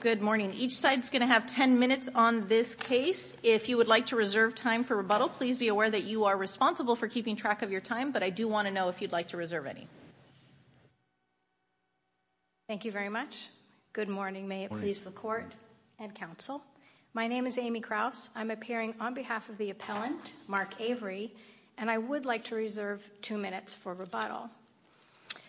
Good morning. Each side is going to have 10 minutes on this case. If you would like to reserve time for rebuttal, please be aware that you are responsible for keeping track of your time, but I do want to know if you'd like to reserve any. Thank you very much. Good morning. May it please the court and counsel. My name is Amy Kraus. I'm appearing on behalf of the appellant, Mark Avery, and I would like to reserve two minutes for rebuttal.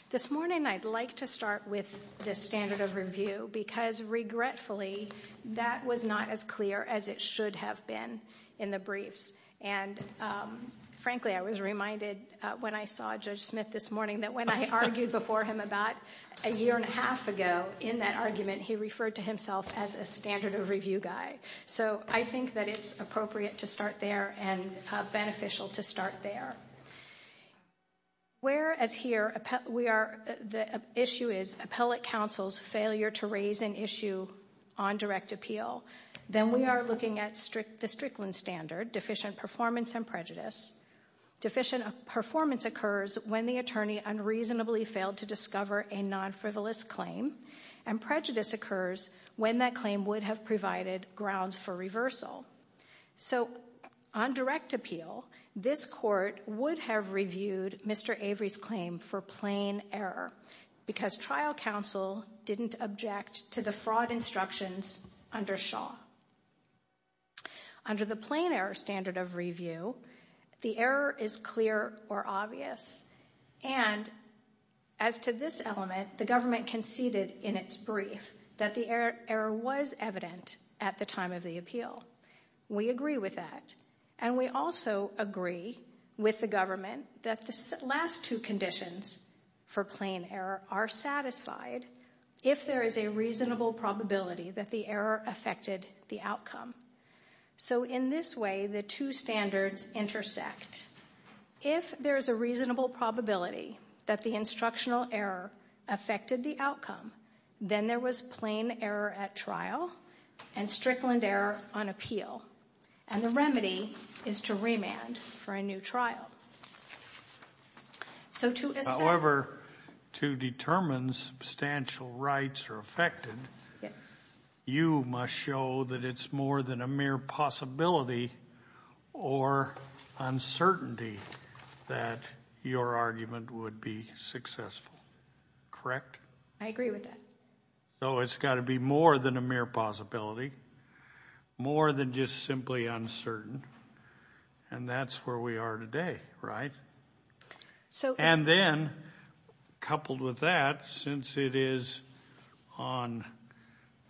This morning, I'd like to start with the standard of review, because regretfully that was not as clear as it should have been in the briefs. And frankly, I was reminded when I saw Judge Smith this morning that when I argued before him about a year and a half ago in that argument, he referred to himself as a standard of review guy. So I think that it's appropriate to start there and beneficial to start there. Whereas here, we are, the issue is appellate counsel's failure to raise an issue on direct appeal, then we are looking at the Strickland standard, deficient performance and prejudice. Deficient performance occurs when the attorney unreasonably failed to discover a non-frivolous claim, and prejudice occurs when that claim would have provided grounds for reversal. So on direct appeal, this court would have reviewed Mr. Avery's claim for plain error, because trial counsel didn't object to the fraud instructions under Shaw. Under the plain error standard of review, the error is clear or obvious. And as to this element, the government conceded in its brief that the error was evident at the time of the appeal. We agree with that. And we also agree with the government that the last two conditions for plain error are satisfied if there is a reasonable probability that the error affected the outcome. So in this way, the two standards intersect. If there is a reasonable probability that the instructional error affected the outcome, then there was plain error at trial and Strickland error on appeal. And the remedy is to remand for a new trial. So to assert... However, to determine substantial rights are affected, you must show that it's more than a mere possibility or uncertainty that your argument would be successful. Correct? I agree with that. So it's got to be more than a mere possibility, more than just simply uncertain, and that's where we are today, right? And then, coupled with that, since it is on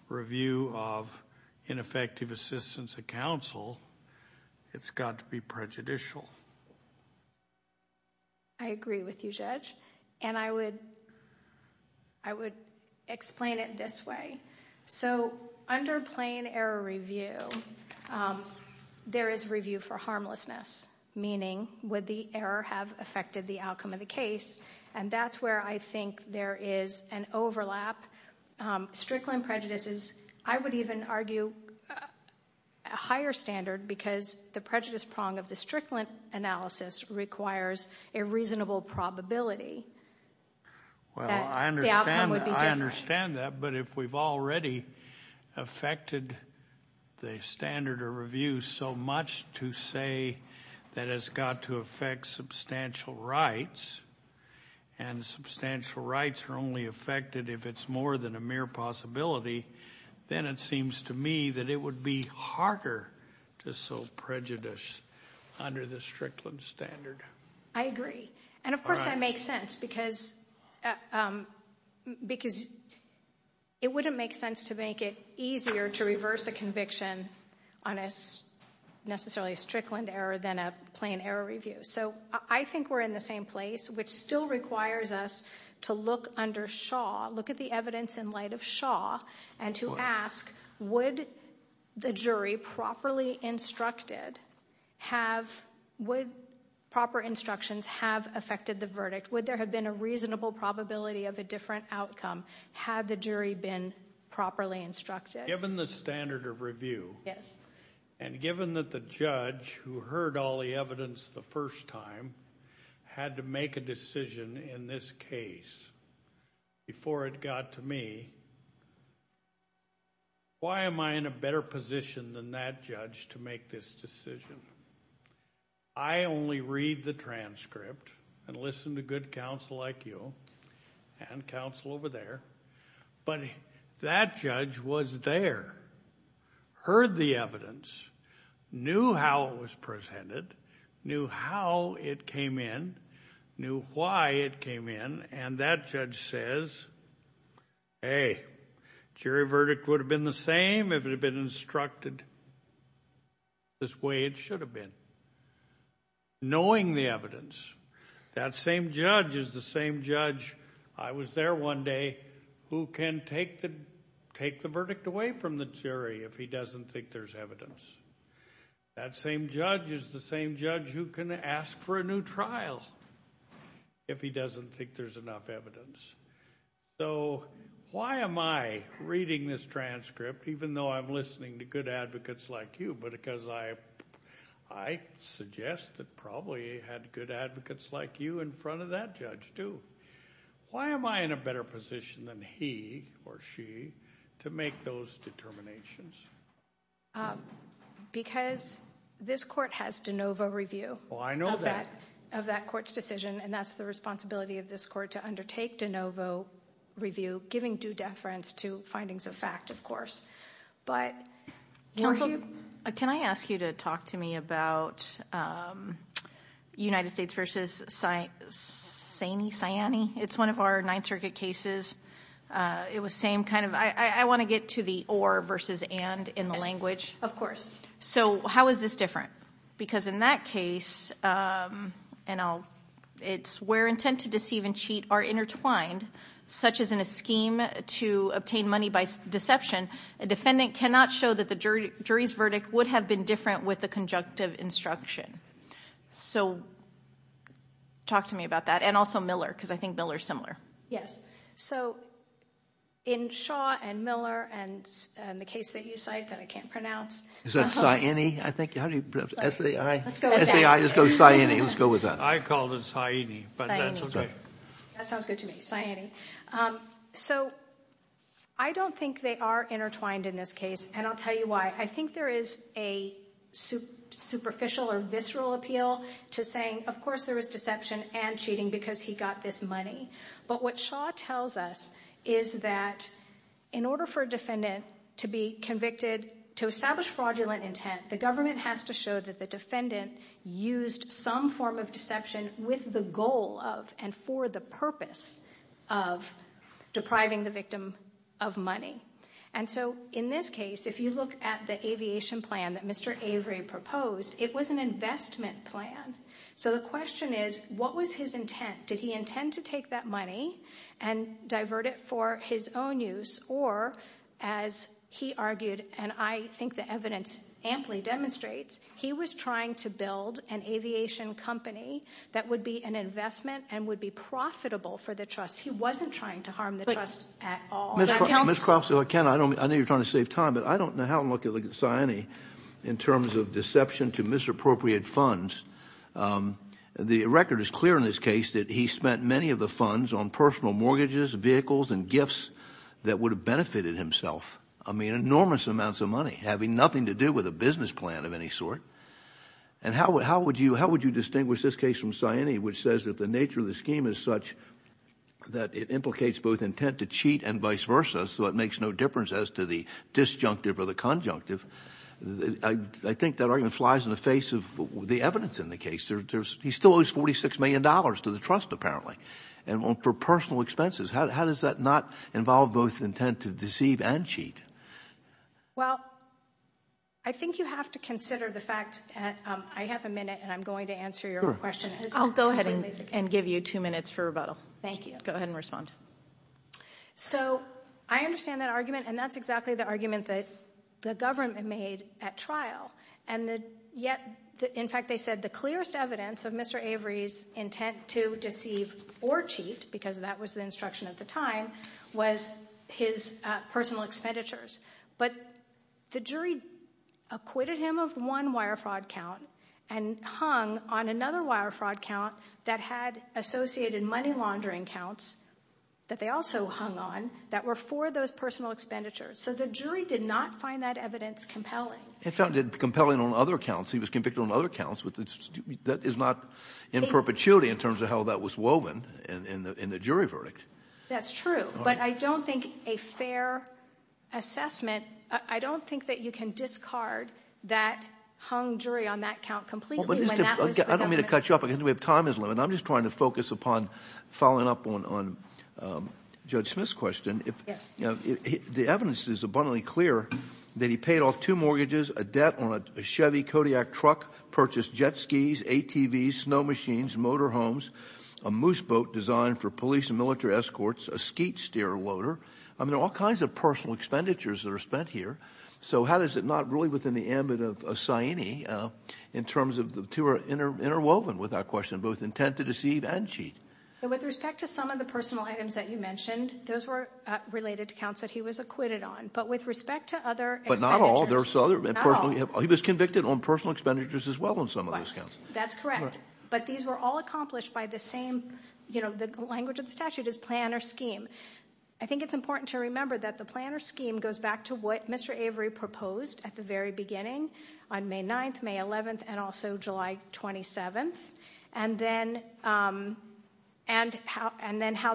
review of ineffective assistance of counsel, it's got to be prejudicial. I agree with you, Judge. And I would explain it this way. So under plain error review, there is review for harmlessness, meaning would the error have affected the outcome of the case? And that's where I think there is an overlap. Strickland prejudices, I would even argue, a higher standard because the prejudice prong of the Strickland analysis requires a reasonable probability that the outcome would be different. Well, I understand that, but if we've already affected the standard of review so much to say that it's got to affect substantial rights, and substantial rights are only affected if it's more than a mere possibility, then it seems to me that it would be harder to show prejudice under the Strickland standard. I agree. And of course that makes sense because it wouldn't make sense to make it easier to reverse a conviction on a necessarily Strickland error than a plain error review. So I think we're in the same place, which still requires us to look under Shaw, look at the evidence in light of Shaw, and to ask, would the jury properly instructed, would proper instructions have affected the verdict? Would there have been a reasonable probability of a different outcome? Had the jury been properly instructed? Given the standard of review, and given that the judge who heard all the evidence the first time had to make a decision in this case before it got to me, why am I in a better position than that judge to make this decision? I only read the transcript and listen to good counsel like you, and counsel over there, but that judge was there, heard the evidence, knew how it was presented, knew how it came in, knew why it came in, and that judge says, hey, jury verdict would have been the same if it had been instructed this way it should have been, knowing the evidence. That same judge is the same judge. I was there one day who can take the verdict away from the jury if he doesn't think there's evidence. That same judge is the same judge who can ask for a new trial if he doesn't think there's enough evidence. So why am I reading this transcript, even though I'm listening to good advocates like you, but because I suggest that probably he had good advocates like you in front of that judge, too. Why am I in a better position than he or she to make those determinations? Because this court has de novo review of that court's decision, and that's the responsibility of this court to undertake de novo review, giving due deference to findings of fact, of course. Counsel, can I ask you to talk to me about United States v. Saini? It's one of our Ninth Circuit cases. I want to get to the or versus and in the language. Of course. So how is this different? Because in that case, it's where intent to deceive and cheat are intertwined, such as in a scheme to obtain money by deception. A defendant cannot show that the jury's verdict would have been different with the conjunctive instruction. So talk to me about that. And also Miller, because I think Miller's similar. Yes. So in Shaw and Miller and the case that you cite that I can't pronounce. Is that Saini, I think? How do you pronounce it? S-A-I? Let's go with that. S-A-I. Let's go with Saini. Let's go with that. I called it Saini. Saini. That sounds good to me. Saini. So I don't think they are intertwined in this case, and I'll tell you why. I think there is a superficial or visceral appeal to saying, of course there was deception and cheating because he got this money. But what Shaw tells us is that in order for a defendant to be convicted, to establish fraudulent intent, the government has to show that the defendant used some form of deception with the goal of and for the purpose of depriving the victim of money. And so in this case, if you look at the aviation plan that Mr. Avery proposed, it was an investment plan. So the question is, what was his intent? Did he intend to take that money and divert it for his own use or, as he argued, and I think the evidence amply demonstrates, he was trying to build an aviation company that would be an investment and would be profitable for the trust. He wasn't trying to harm the trust at all. Ms. Krause, I know you're trying to save time, but I don't know how I'm looking at Saini in terms of deception to misappropriate funds. The record is clear in this case that he spent many of the funds on personal mortgages, vehicles, and gifts that would have benefited himself. I mean, enormous amounts of money having nothing to do with a business plan of any sort. And how would you distinguish this case from Saini, which says that the nature of the scheme is such that it implicates both intent to cheat and vice versa, so it makes no difference as to the disjunctive or the conjunctive. I think that argument flies in the face of the evidence in the case. He still owes $46 million to the trust, apparently, and for personal expenses. How does that not involve both intent to deceive and cheat? Well, I think you have to consider the fact that I have a minute, and I'm going to answer your question. I'll go ahead and give you two minutes for rebuttal. Thank you. Go ahead and respond. So, I understand that argument, and that's exactly the argument that the government made at trial. And yet, in fact, they said the clearest evidence of Mr. Avery's intent to deceive or cheat, because that was the instruction at the time, was his personal expenditures. But the jury acquitted him of one wire fraud count and hung on another wire fraud count that had associated money laundering counts that they also hung on that were for those personal expenditures. So the jury did not find that evidence compelling. It found it compelling on other counts. He was convicted on other counts. That is not in perpetuity in terms of how that was woven in the jury verdict. That's true. But I don't think a fair assessment — I don't think that you can discard that hung jury on that count completely when that was the government's — I don't mean to cut you off. I think we have time as a limit. And I'm just trying to focus upon following up on Judge Smith's question. Yes. The evidence is abundantly clear that he paid off two mortgages, a debt on a Chevy Kodiak truck, purchased jet skis, ATVs, snow machines, motorhomes, a moose boat designed for police and military escorts, a skeet steerer loader. I mean, there are all kinds of personal expenditures that are spent here. So how is it not really within the ambit of Saini in terms of the two are interwoven, without question, both intent to deceive and cheat? With respect to some of the personal items that you mentioned, those were related to counts that he was acquitted on. But with respect to other expenditures — But not all. Not all. He was convicted on personal expenditures as well on some of those counts. That's correct. But these were all accomplished by the same — the language of the statute is plan or scheme. I think it's important to remember that the plan or scheme goes back to what Mr. Avery proposed at the very beginning on May 9th, May 11th, and also July 27th, and then how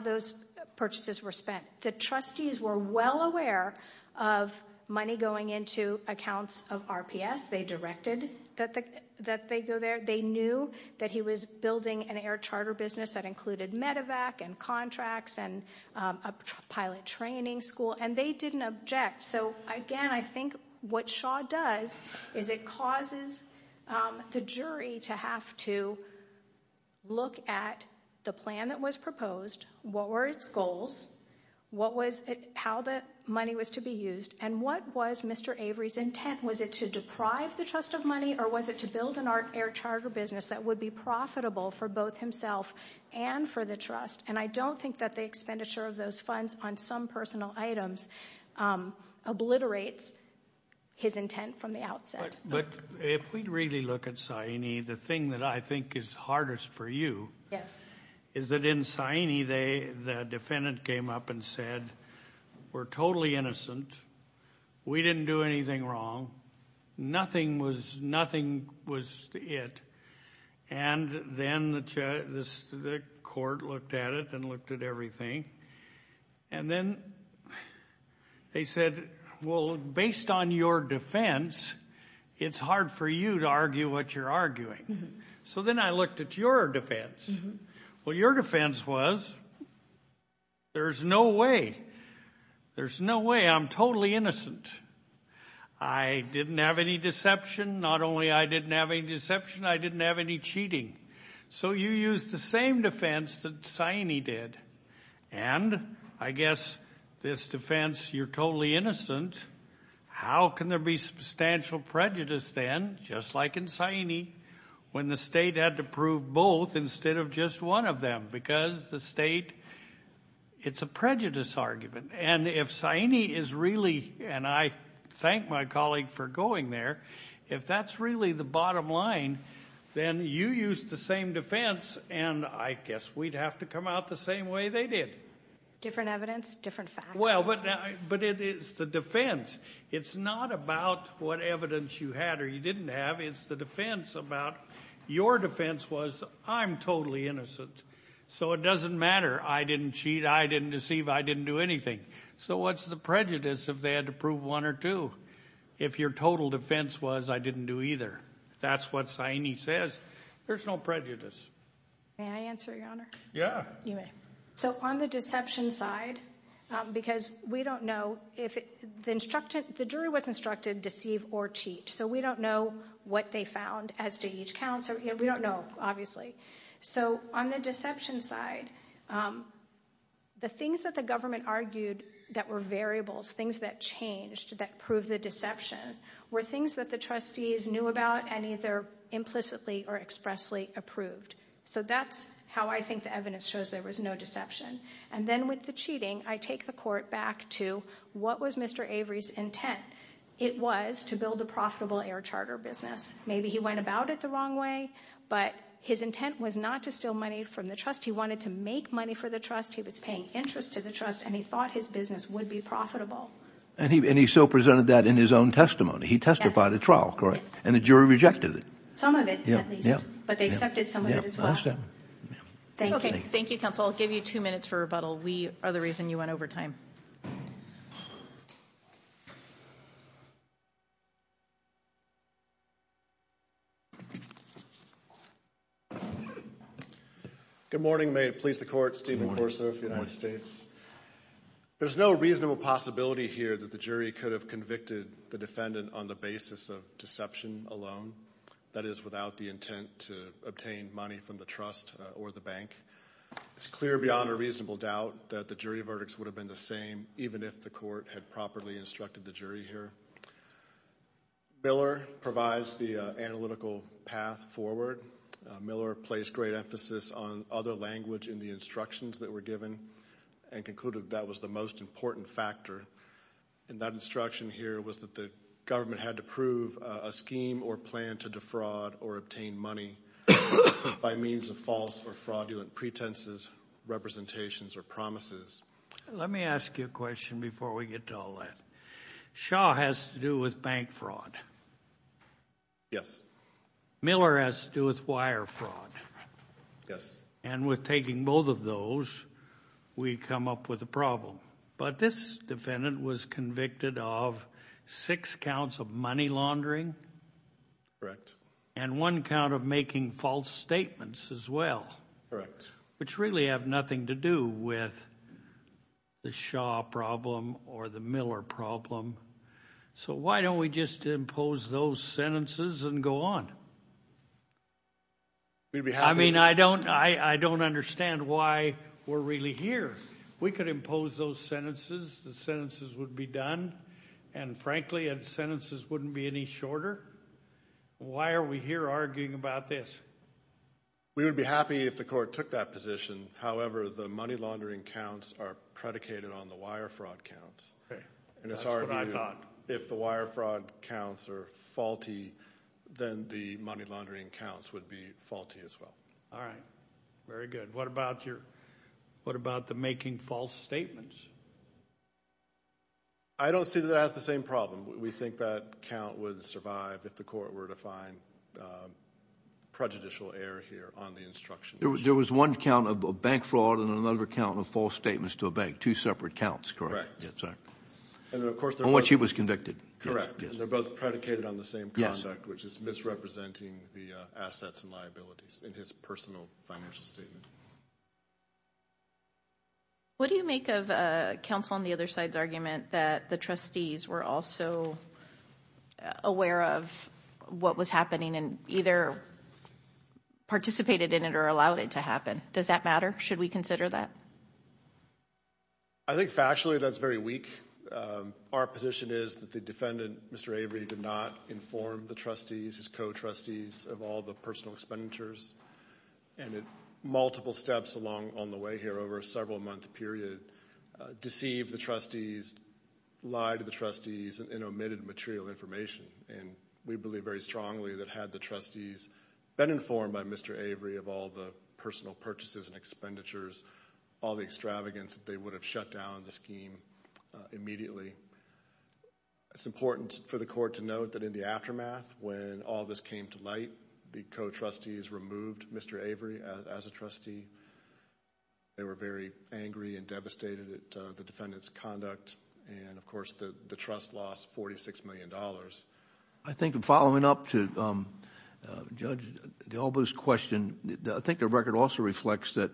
those purchases were spent. The trustees were well aware of money going into accounts of RPS. They directed that they go there. They knew that he was building an air charter business that included medevac and contracts and a pilot training school, and they didn't object. So again, I think what Shaw does is it causes the jury to have to look at the plan that was proposed, what were its goals, how the money was to be used, and what was Mr. Avery's intent. Was it to deprive the trust of money, or was it to build an air charter business that would be profitable for both himself and for the trust? And I don't think that the expenditure of those funds on some personal items obliterates his intent from the outset. But if we really look at Sayini, the thing that I think is hardest for you is that in Sayini, the defendant came up and said, we're totally innocent. We didn't do anything wrong. Nothing was it. And then the court looked at it and looked at everything. And then they said, well, based on your defense, it's hard for you to argue what you're arguing. So then I looked at your defense. Well, your defense was, there's no way. There's no way. I'm totally innocent. I didn't have any deception. Not only I didn't have any deception, I didn't have any cheating. So you used the same defense that Sayini did. And I guess this defense, you're totally innocent. How can there be substantial prejudice then, just like in Sayini, when the state had to prove both instead of just one of them? Because the state, it's a prejudice argument. And if Sayini is really, and I thank my colleague for going there, if that's really the bottom line, then you used the same defense, and I guess we'd have to come out the same way they did. Different evidence, different facts. Well, but it's the defense. It's not about what evidence you had or you didn't have. It's the defense about, your defense was, I'm totally innocent. So it doesn't matter. I didn't cheat. I didn't deceive. I didn't do anything. So what's the prejudice if they had to prove one or two? If your total defense was, I didn't do either. That's what Sayini says. There's no prejudice. May I answer, Your Honor? Yeah. You may. So on the deception side, because we don't know if, the jury was instructed to deceive or cheat. So we don't know what they found as to each counts. We don't know, obviously. So on the deception side, the things that the government argued that were variables, things that changed, that proved the deception, were things that the trustees knew about and either implicitly or expressly approved. So that's how I think the evidence shows there was no deception. And then with the cheating, I take the court back to, what was Mr. Avery's intent? It was to build a profitable air charter business. Maybe he went about it the wrong way, but his intent was not to steal money from the trust. He wanted to make money for the trust. He was paying interest to the trust, and he thought his business would be profitable. And he still presented that in his own testimony. He testified at trial, correct? Yes. And the jury rejected it? Some of it, at least. Yeah, yeah. But they accepted some of it as well. Yeah, I understand. Thank you. Thank you, counsel. I'll give you two minutes for rebuttal. We are the reason you went over time. Good morning. May it please the court, Stephen Corso of the United States. There's no reasonable possibility here that the jury could have convicted the defendant on the basis of deception alone, that is, without the intent to obtain money from the trust or the bank. It's clear beyond a reasonable doubt that the jury verdicts would have been the same, even if the court had properly instructed the jury here. Miller provides the analytical path forward. Miller placed great emphasis on other language in the instructions that were given and concluded that was the most important factor. And that instruction here was that the government had to prove a scheme or plan to defraud or obtain money by means of false or fraudulent pretenses, representations, or promises. Let me ask you a question before we get to all that. Shaw has to do with bank fraud. Yes. Miller has to do with wire fraud. Yes. And with taking both of those, we come up with a problem. But this defendant was convicted of six counts of money laundering. Correct. And one count of making false statements as well. Correct. Which really have nothing to do with the Shaw problem or the Miller problem. So why don't we just impose those sentences and go on? We'd be happy to. I mean, I don't understand why we're really here. We could impose those sentences. The sentences would be done. And frankly, the sentences wouldn't be any shorter. Why are we here arguing about this? We would be happy if the court took that position. However, the money laundering counts are predicated on the wire fraud counts. Okay. That's what I thought. If the wire fraud counts are faulty, then the money laundering counts would be faulty as well. All right. Very good. What about the making false statements? I don't see that as the same problem. We think that count would survive if the court were to find prejudicial error here on the instructions. There was one count of bank fraud and another count of false statements to a bank. Two separate counts, correct? Yes, sir. And then, of course, there was... On which he was convicted. Correct. And they're both predicated on the same conduct, which is misrepresenting the assets and liabilities in his personal financial statement. What do you make of counsel on the other side's argument that the trustees were also aware of what was happening and either participated in it or allowed it to happen? Does that matter? Should we consider that? I think factually that's very weak. Our position is that the defendant, Mr. Avery, did not inform the trustees, his co-trustees, of all the personal expenditures and at multiple steps along on the way here over a several month period, deceived the trustees, lied to the trustees, and omitted material information. And we believe very strongly that had the trustees been informed by Mr. Avery of all the personal purchases and expenditures, all the extravagance, they would have shut down the scheme immediately. It's important for the court to note that in the aftermath, when all this came to light, the co-trustees removed Mr. Avery as a trustee. They were very angry and devastated at the fact that the trust lost $46 million. I think following up to Judge DeAlba's question, I think the record also reflects that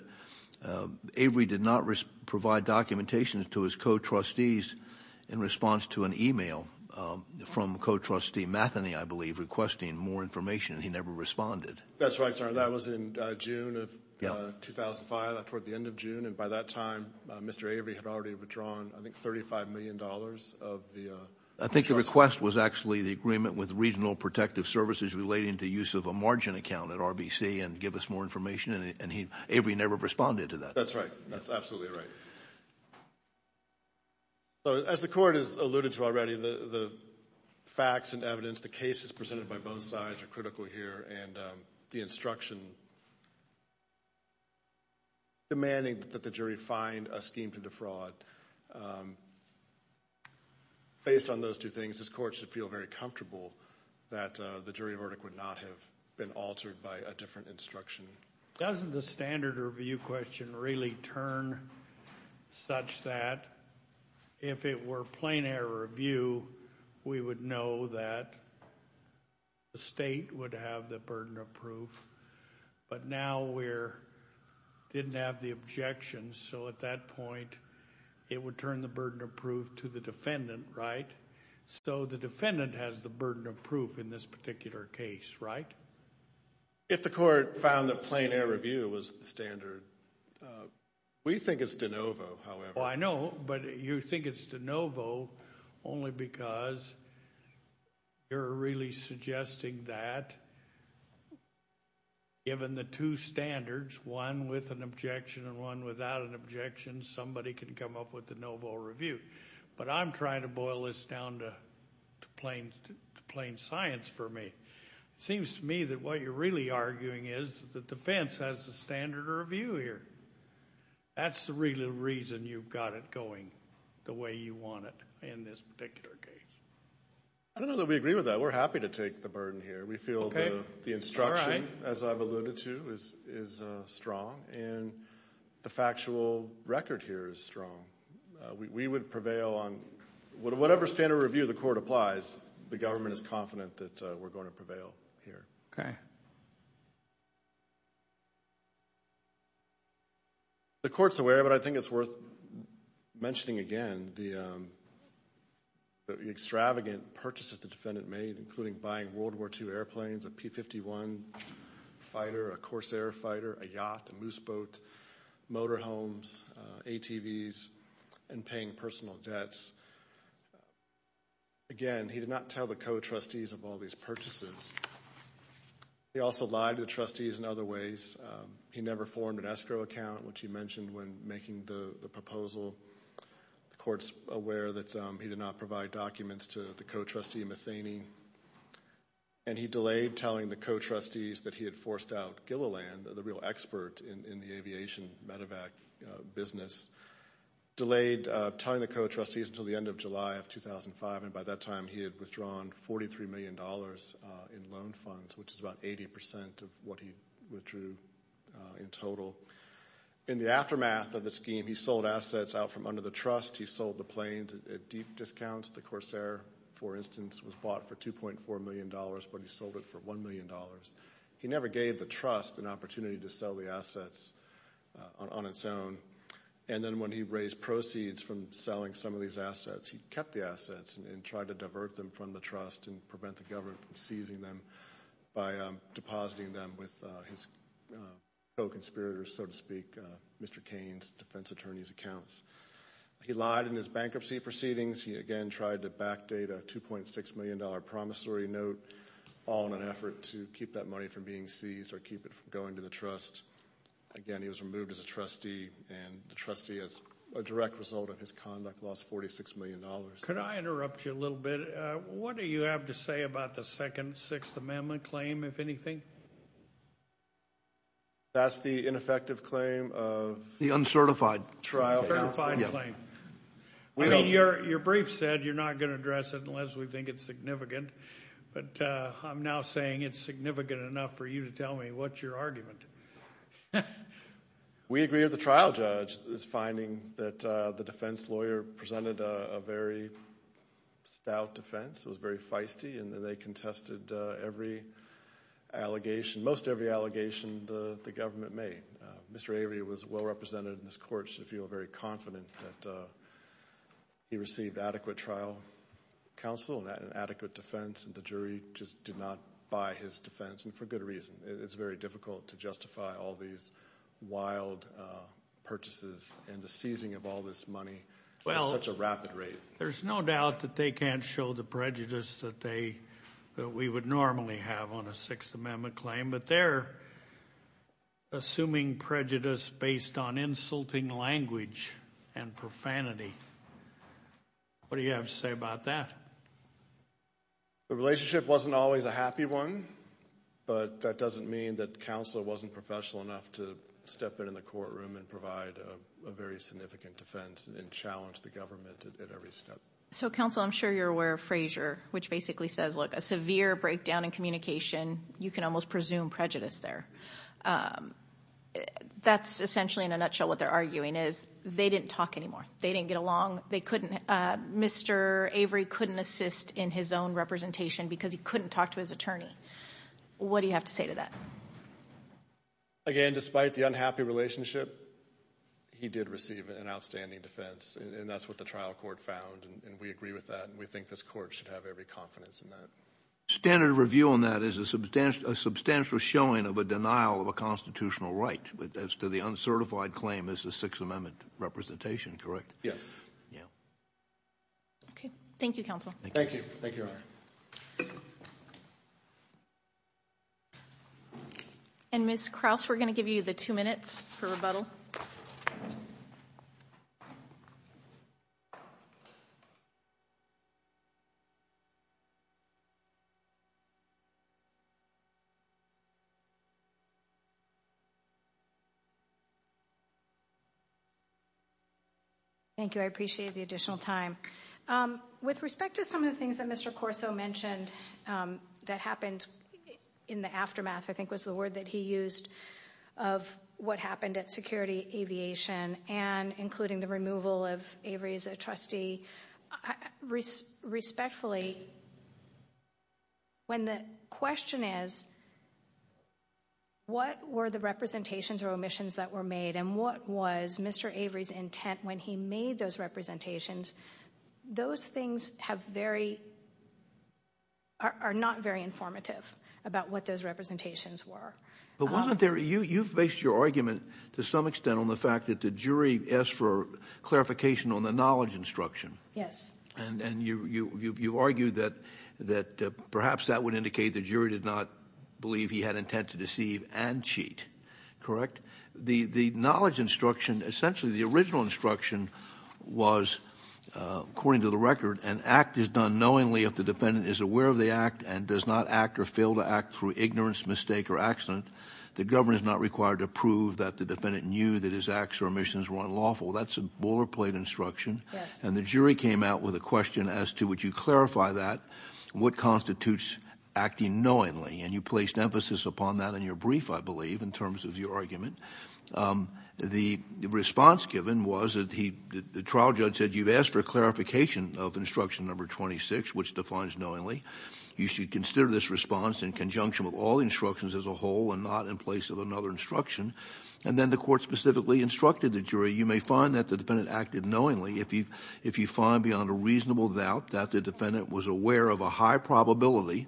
Avery did not provide documentation to his co-trustees in response to an email from co-trustee Matheny, I believe, requesting more information. He never responded. That's right, sir. That was in June of 2005, toward the end of June. And by that time, Mr. Avery had already withdrawn, I think, $35 million of the... I think the request was actually the agreement with Regional Protective Services relating to use of a margin account at RBC and give us more information, and Avery never responded to that. That's right. That's absolutely right. So as the court has alluded to already, the facts and evidence, the cases presented by a scheme to defraud, based on those two things, this court should feel very comfortable that the jury verdict would not have been altered by a different instruction. Doesn't the standard review question really turn such that if it were plain air review, we would know that the state would have the burden of proof, but now we didn't have the objections, so at that point, it would turn the burden of proof to the defendant, right? So the defendant has the burden of proof in this particular case, right? If the court found that plain air review was the standard, we think it's de novo, however. I know, but you think it's de novo only because you're really suggesting that given the two without an objection, somebody can come up with the de novo review, but I'm trying to boil this down to plain science for me. It seems to me that what you're really arguing is that the defense has the standard review here. That's the real reason you've got it going the way you want it in this particular case. I don't know that we agree with that. We're happy to take the burden here. We feel the instruction, as I've alluded to, is strong. And the factual record here is strong. We would prevail on whatever standard review the court applies, the government is confident that we're going to prevail here. Okay. The court's aware of it. I think it's worth mentioning again the extravagant purchases the defendant made, including buying World War II airplanes, a P-51 fighter, a Corsair fighter, a yacht, a moose boat, motor homes, ATVs, and paying personal debts. Again, he did not tell the co-trustees of all these purchases. He also lied to the trustees in other ways. He never formed an escrow account, which he mentioned when making the proposal. The court's aware that he did not provide documents to the co-trustee Methany, and he delayed telling the co-trustees that he had forced out Gilliland, the real expert in the aviation medevac business, delayed telling the co-trustees until the end of July of 2005, and by that time he had withdrawn $43 million in loan funds, which is about 80% of what he withdrew in total. In the aftermath of the scheme, he sold assets out from under the trust. He sold the planes at deep discounts. The Corsair, for instance, was bought for $2.4 million, but he sold it for $1 million. He never gave the trust an opportunity to sell the assets on its own. And then when he raised proceeds from selling some of these assets, he kept the assets and tried to divert them from the trust and prevent the government from seizing them by depositing them with his co-conspirators, so to speak, Mr. Cain's defense attorney's accounts. He lied in his bankruptcy proceedings. He again tried to backdate a $2.6 million promissory note, all in an effort to keep that money from being seized or keep it from going to the trust. Again, he was removed as a trustee, and the trustee, as a direct result of his conduct, lost $46 million. Could I interrupt you a little bit? What do you have to say about the second Sixth Amendment claim, if anything? That's the ineffective claim of— The uncertified trial. Uncertified claim. Your brief said you're not going to address it unless we think it's significant, but I'm now saying it's significant enough for you to tell me what's your argument. We agree with the trial judge's finding that the defense lawyer presented a very stout defense. It was very feisty, and they contested every allegation, most every allegation the government made. Mr. Avery was well represented in this court, so I feel very confident that he received adequate trial counsel and adequate defense, and the jury just did not buy his defense, and for good reason. It's very difficult to justify all these wild purchases and the seizing of all this money at such a rapid rate. There's no doubt that they can't show the prejudice that we would normally have on a Sixth Amendment claim, but they're assuming prejudice based on insulting language and profanity. What do you have to say about that? The relationship wasn't always a happy one, but that doesn't mean that counsel wasn't professional enough to step in in the courtroom and provide a very significant defense and challenge the government at every step. So, counsel, I'm sure you're aware of Frazier, which basically says, look, a severe breakdown in communication, you can almost presume prejudice there. That's essentially, in a nutshell, what they're arguing is they didn't talk anymore. They didn't get along. Mr. Avery couldn't assist in his own representation because he couldn't talk to his attorney. What do you have to say to that? Again, despite the unhappy relationship, he did receive an outstanding defense, and that's what the trial court found, and we agree with that, and we think this court should have every confidence in that. Standard of review on that is a substantial showing of a denial of a constitutional right as to the uncertified claim as a Sixth Amendment representation, correct? Yes. Okay. Thank you, counsel. Thank you. Thank you, Your Honor. And Ms. Krause, we're going to give you the two minutes for rebuttal. Thank you. I appreciate the additional time. With respect to some of the things that Mr. Corso mentioned that happened in the aftermath, I think was the word that he used, of what happened at Security Aviation and including the removal of Avery's trustee, respectfully, when the question is, what were the representations or omissions that were made, and what was Mr. Avery's intent when he made those representations, those things are not very informative about what those representations were. But you've based your argument, to some extent, on the fact that the jury asked for clarification on the knowledge instruction. Yes. And you argue that perhaps that would indicate the jury did not believe he had intent to deceive and cheat, correct? The knowledge instruction, essentially, the original instruction was, according to the record, an act is done knowingly if the defendant is aware of the act and does not act or fail to act through ignorance, mistake, or accident. The government is not required to prove that the defendant knew that his acts or omissions were unlawful. That's a boilerplate instruction. Yes. And the jury came out with a question as to, would you clarify that? What constitutes acting knowingly? And you placed emphasis upon that in your brief, I believe, in terms of your argument. The response given was that the trial judge said, you've asked for a clarification of instruction number 26, which defines knowingly. You should consider this response in conjunction with all the instructions as a whole and not in place of another instruction. And then the court specifically instructed the jury, you may find that the defendant acted knowingly if you find beyond a reasonable doubt that the defendant was aware of a high probability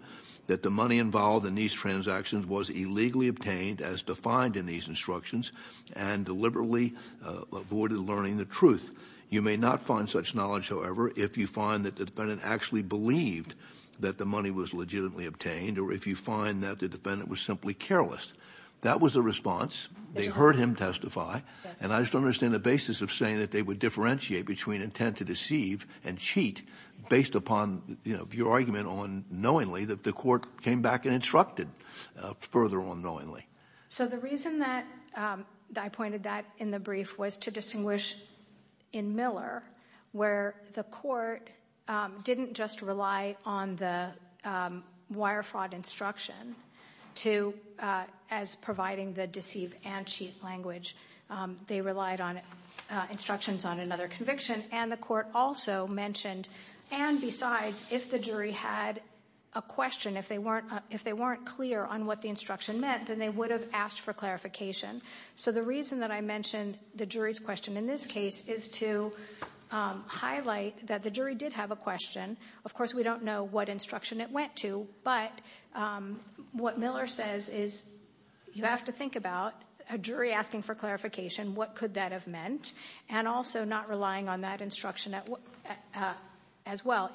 that the money involved in these transactions was illegally obtained as defined in these instructions and deliberately avoided learning the truth. You may not find such knowledge, however, if you find that the defendant actually believed that the money was legitimately obtained or if you find that the defendant was simply careless. That was the response. They heard him testify. And I just don't understand the basis of saying that they would differentiate between intent to deceive and cheat based upon your argument on knowingly that the court came back and instructed further on knowingly. So the reason that I pointed that in the brief was to distinguish in Miller where the court didn't just rely on the wire fraud instruction as providing the deceive and cheat language. They relied on instructions on another conviction. And the court also mentioned, and besides, if the jury had a question, if they weren't clear on what the instruction meant, then they would have asked for clarification. So the reason that I mentioned the jury's question in this case is to highlight that the jury did have a question. Of course, we don't know what instruction it went to. But what Miller says is you have to think about a jury asking for clarification, what could that have meant, and also not relying on that instruction as well.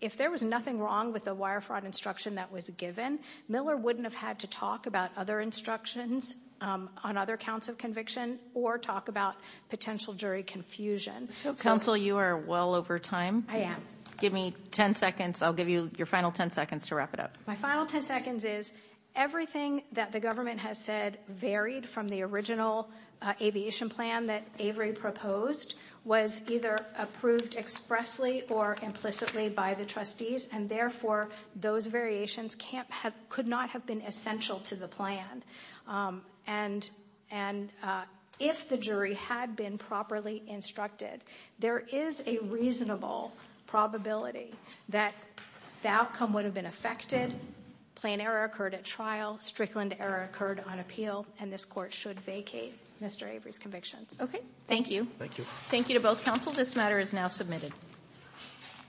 If there was nothing wrong with the wire fraud instruction that was given, Miller wouldn't have had to talk about other instructions on other counts of conviction or talk about potential jury confusion. Counsel, you are well over time. I am. Give me ten seconds. I'll give you your final ten seconds to wrap it up. My final ten seconds is everything that the government has said varied from the original aviation plan that Avery proposed was either approved expressly or implicitly by the trustees, and therefore those variations could not have been essential to the plan. And if the jury had been properly instructed, there is a reasonable probability that the outcome would have been affected, plan error occurred at trial, Strickland error occurred on appeal, and this Court should vacate Mr. Avery's convictions. Okay. Thank you. Thank you. Thank you to both counsel. This matter is now submitted.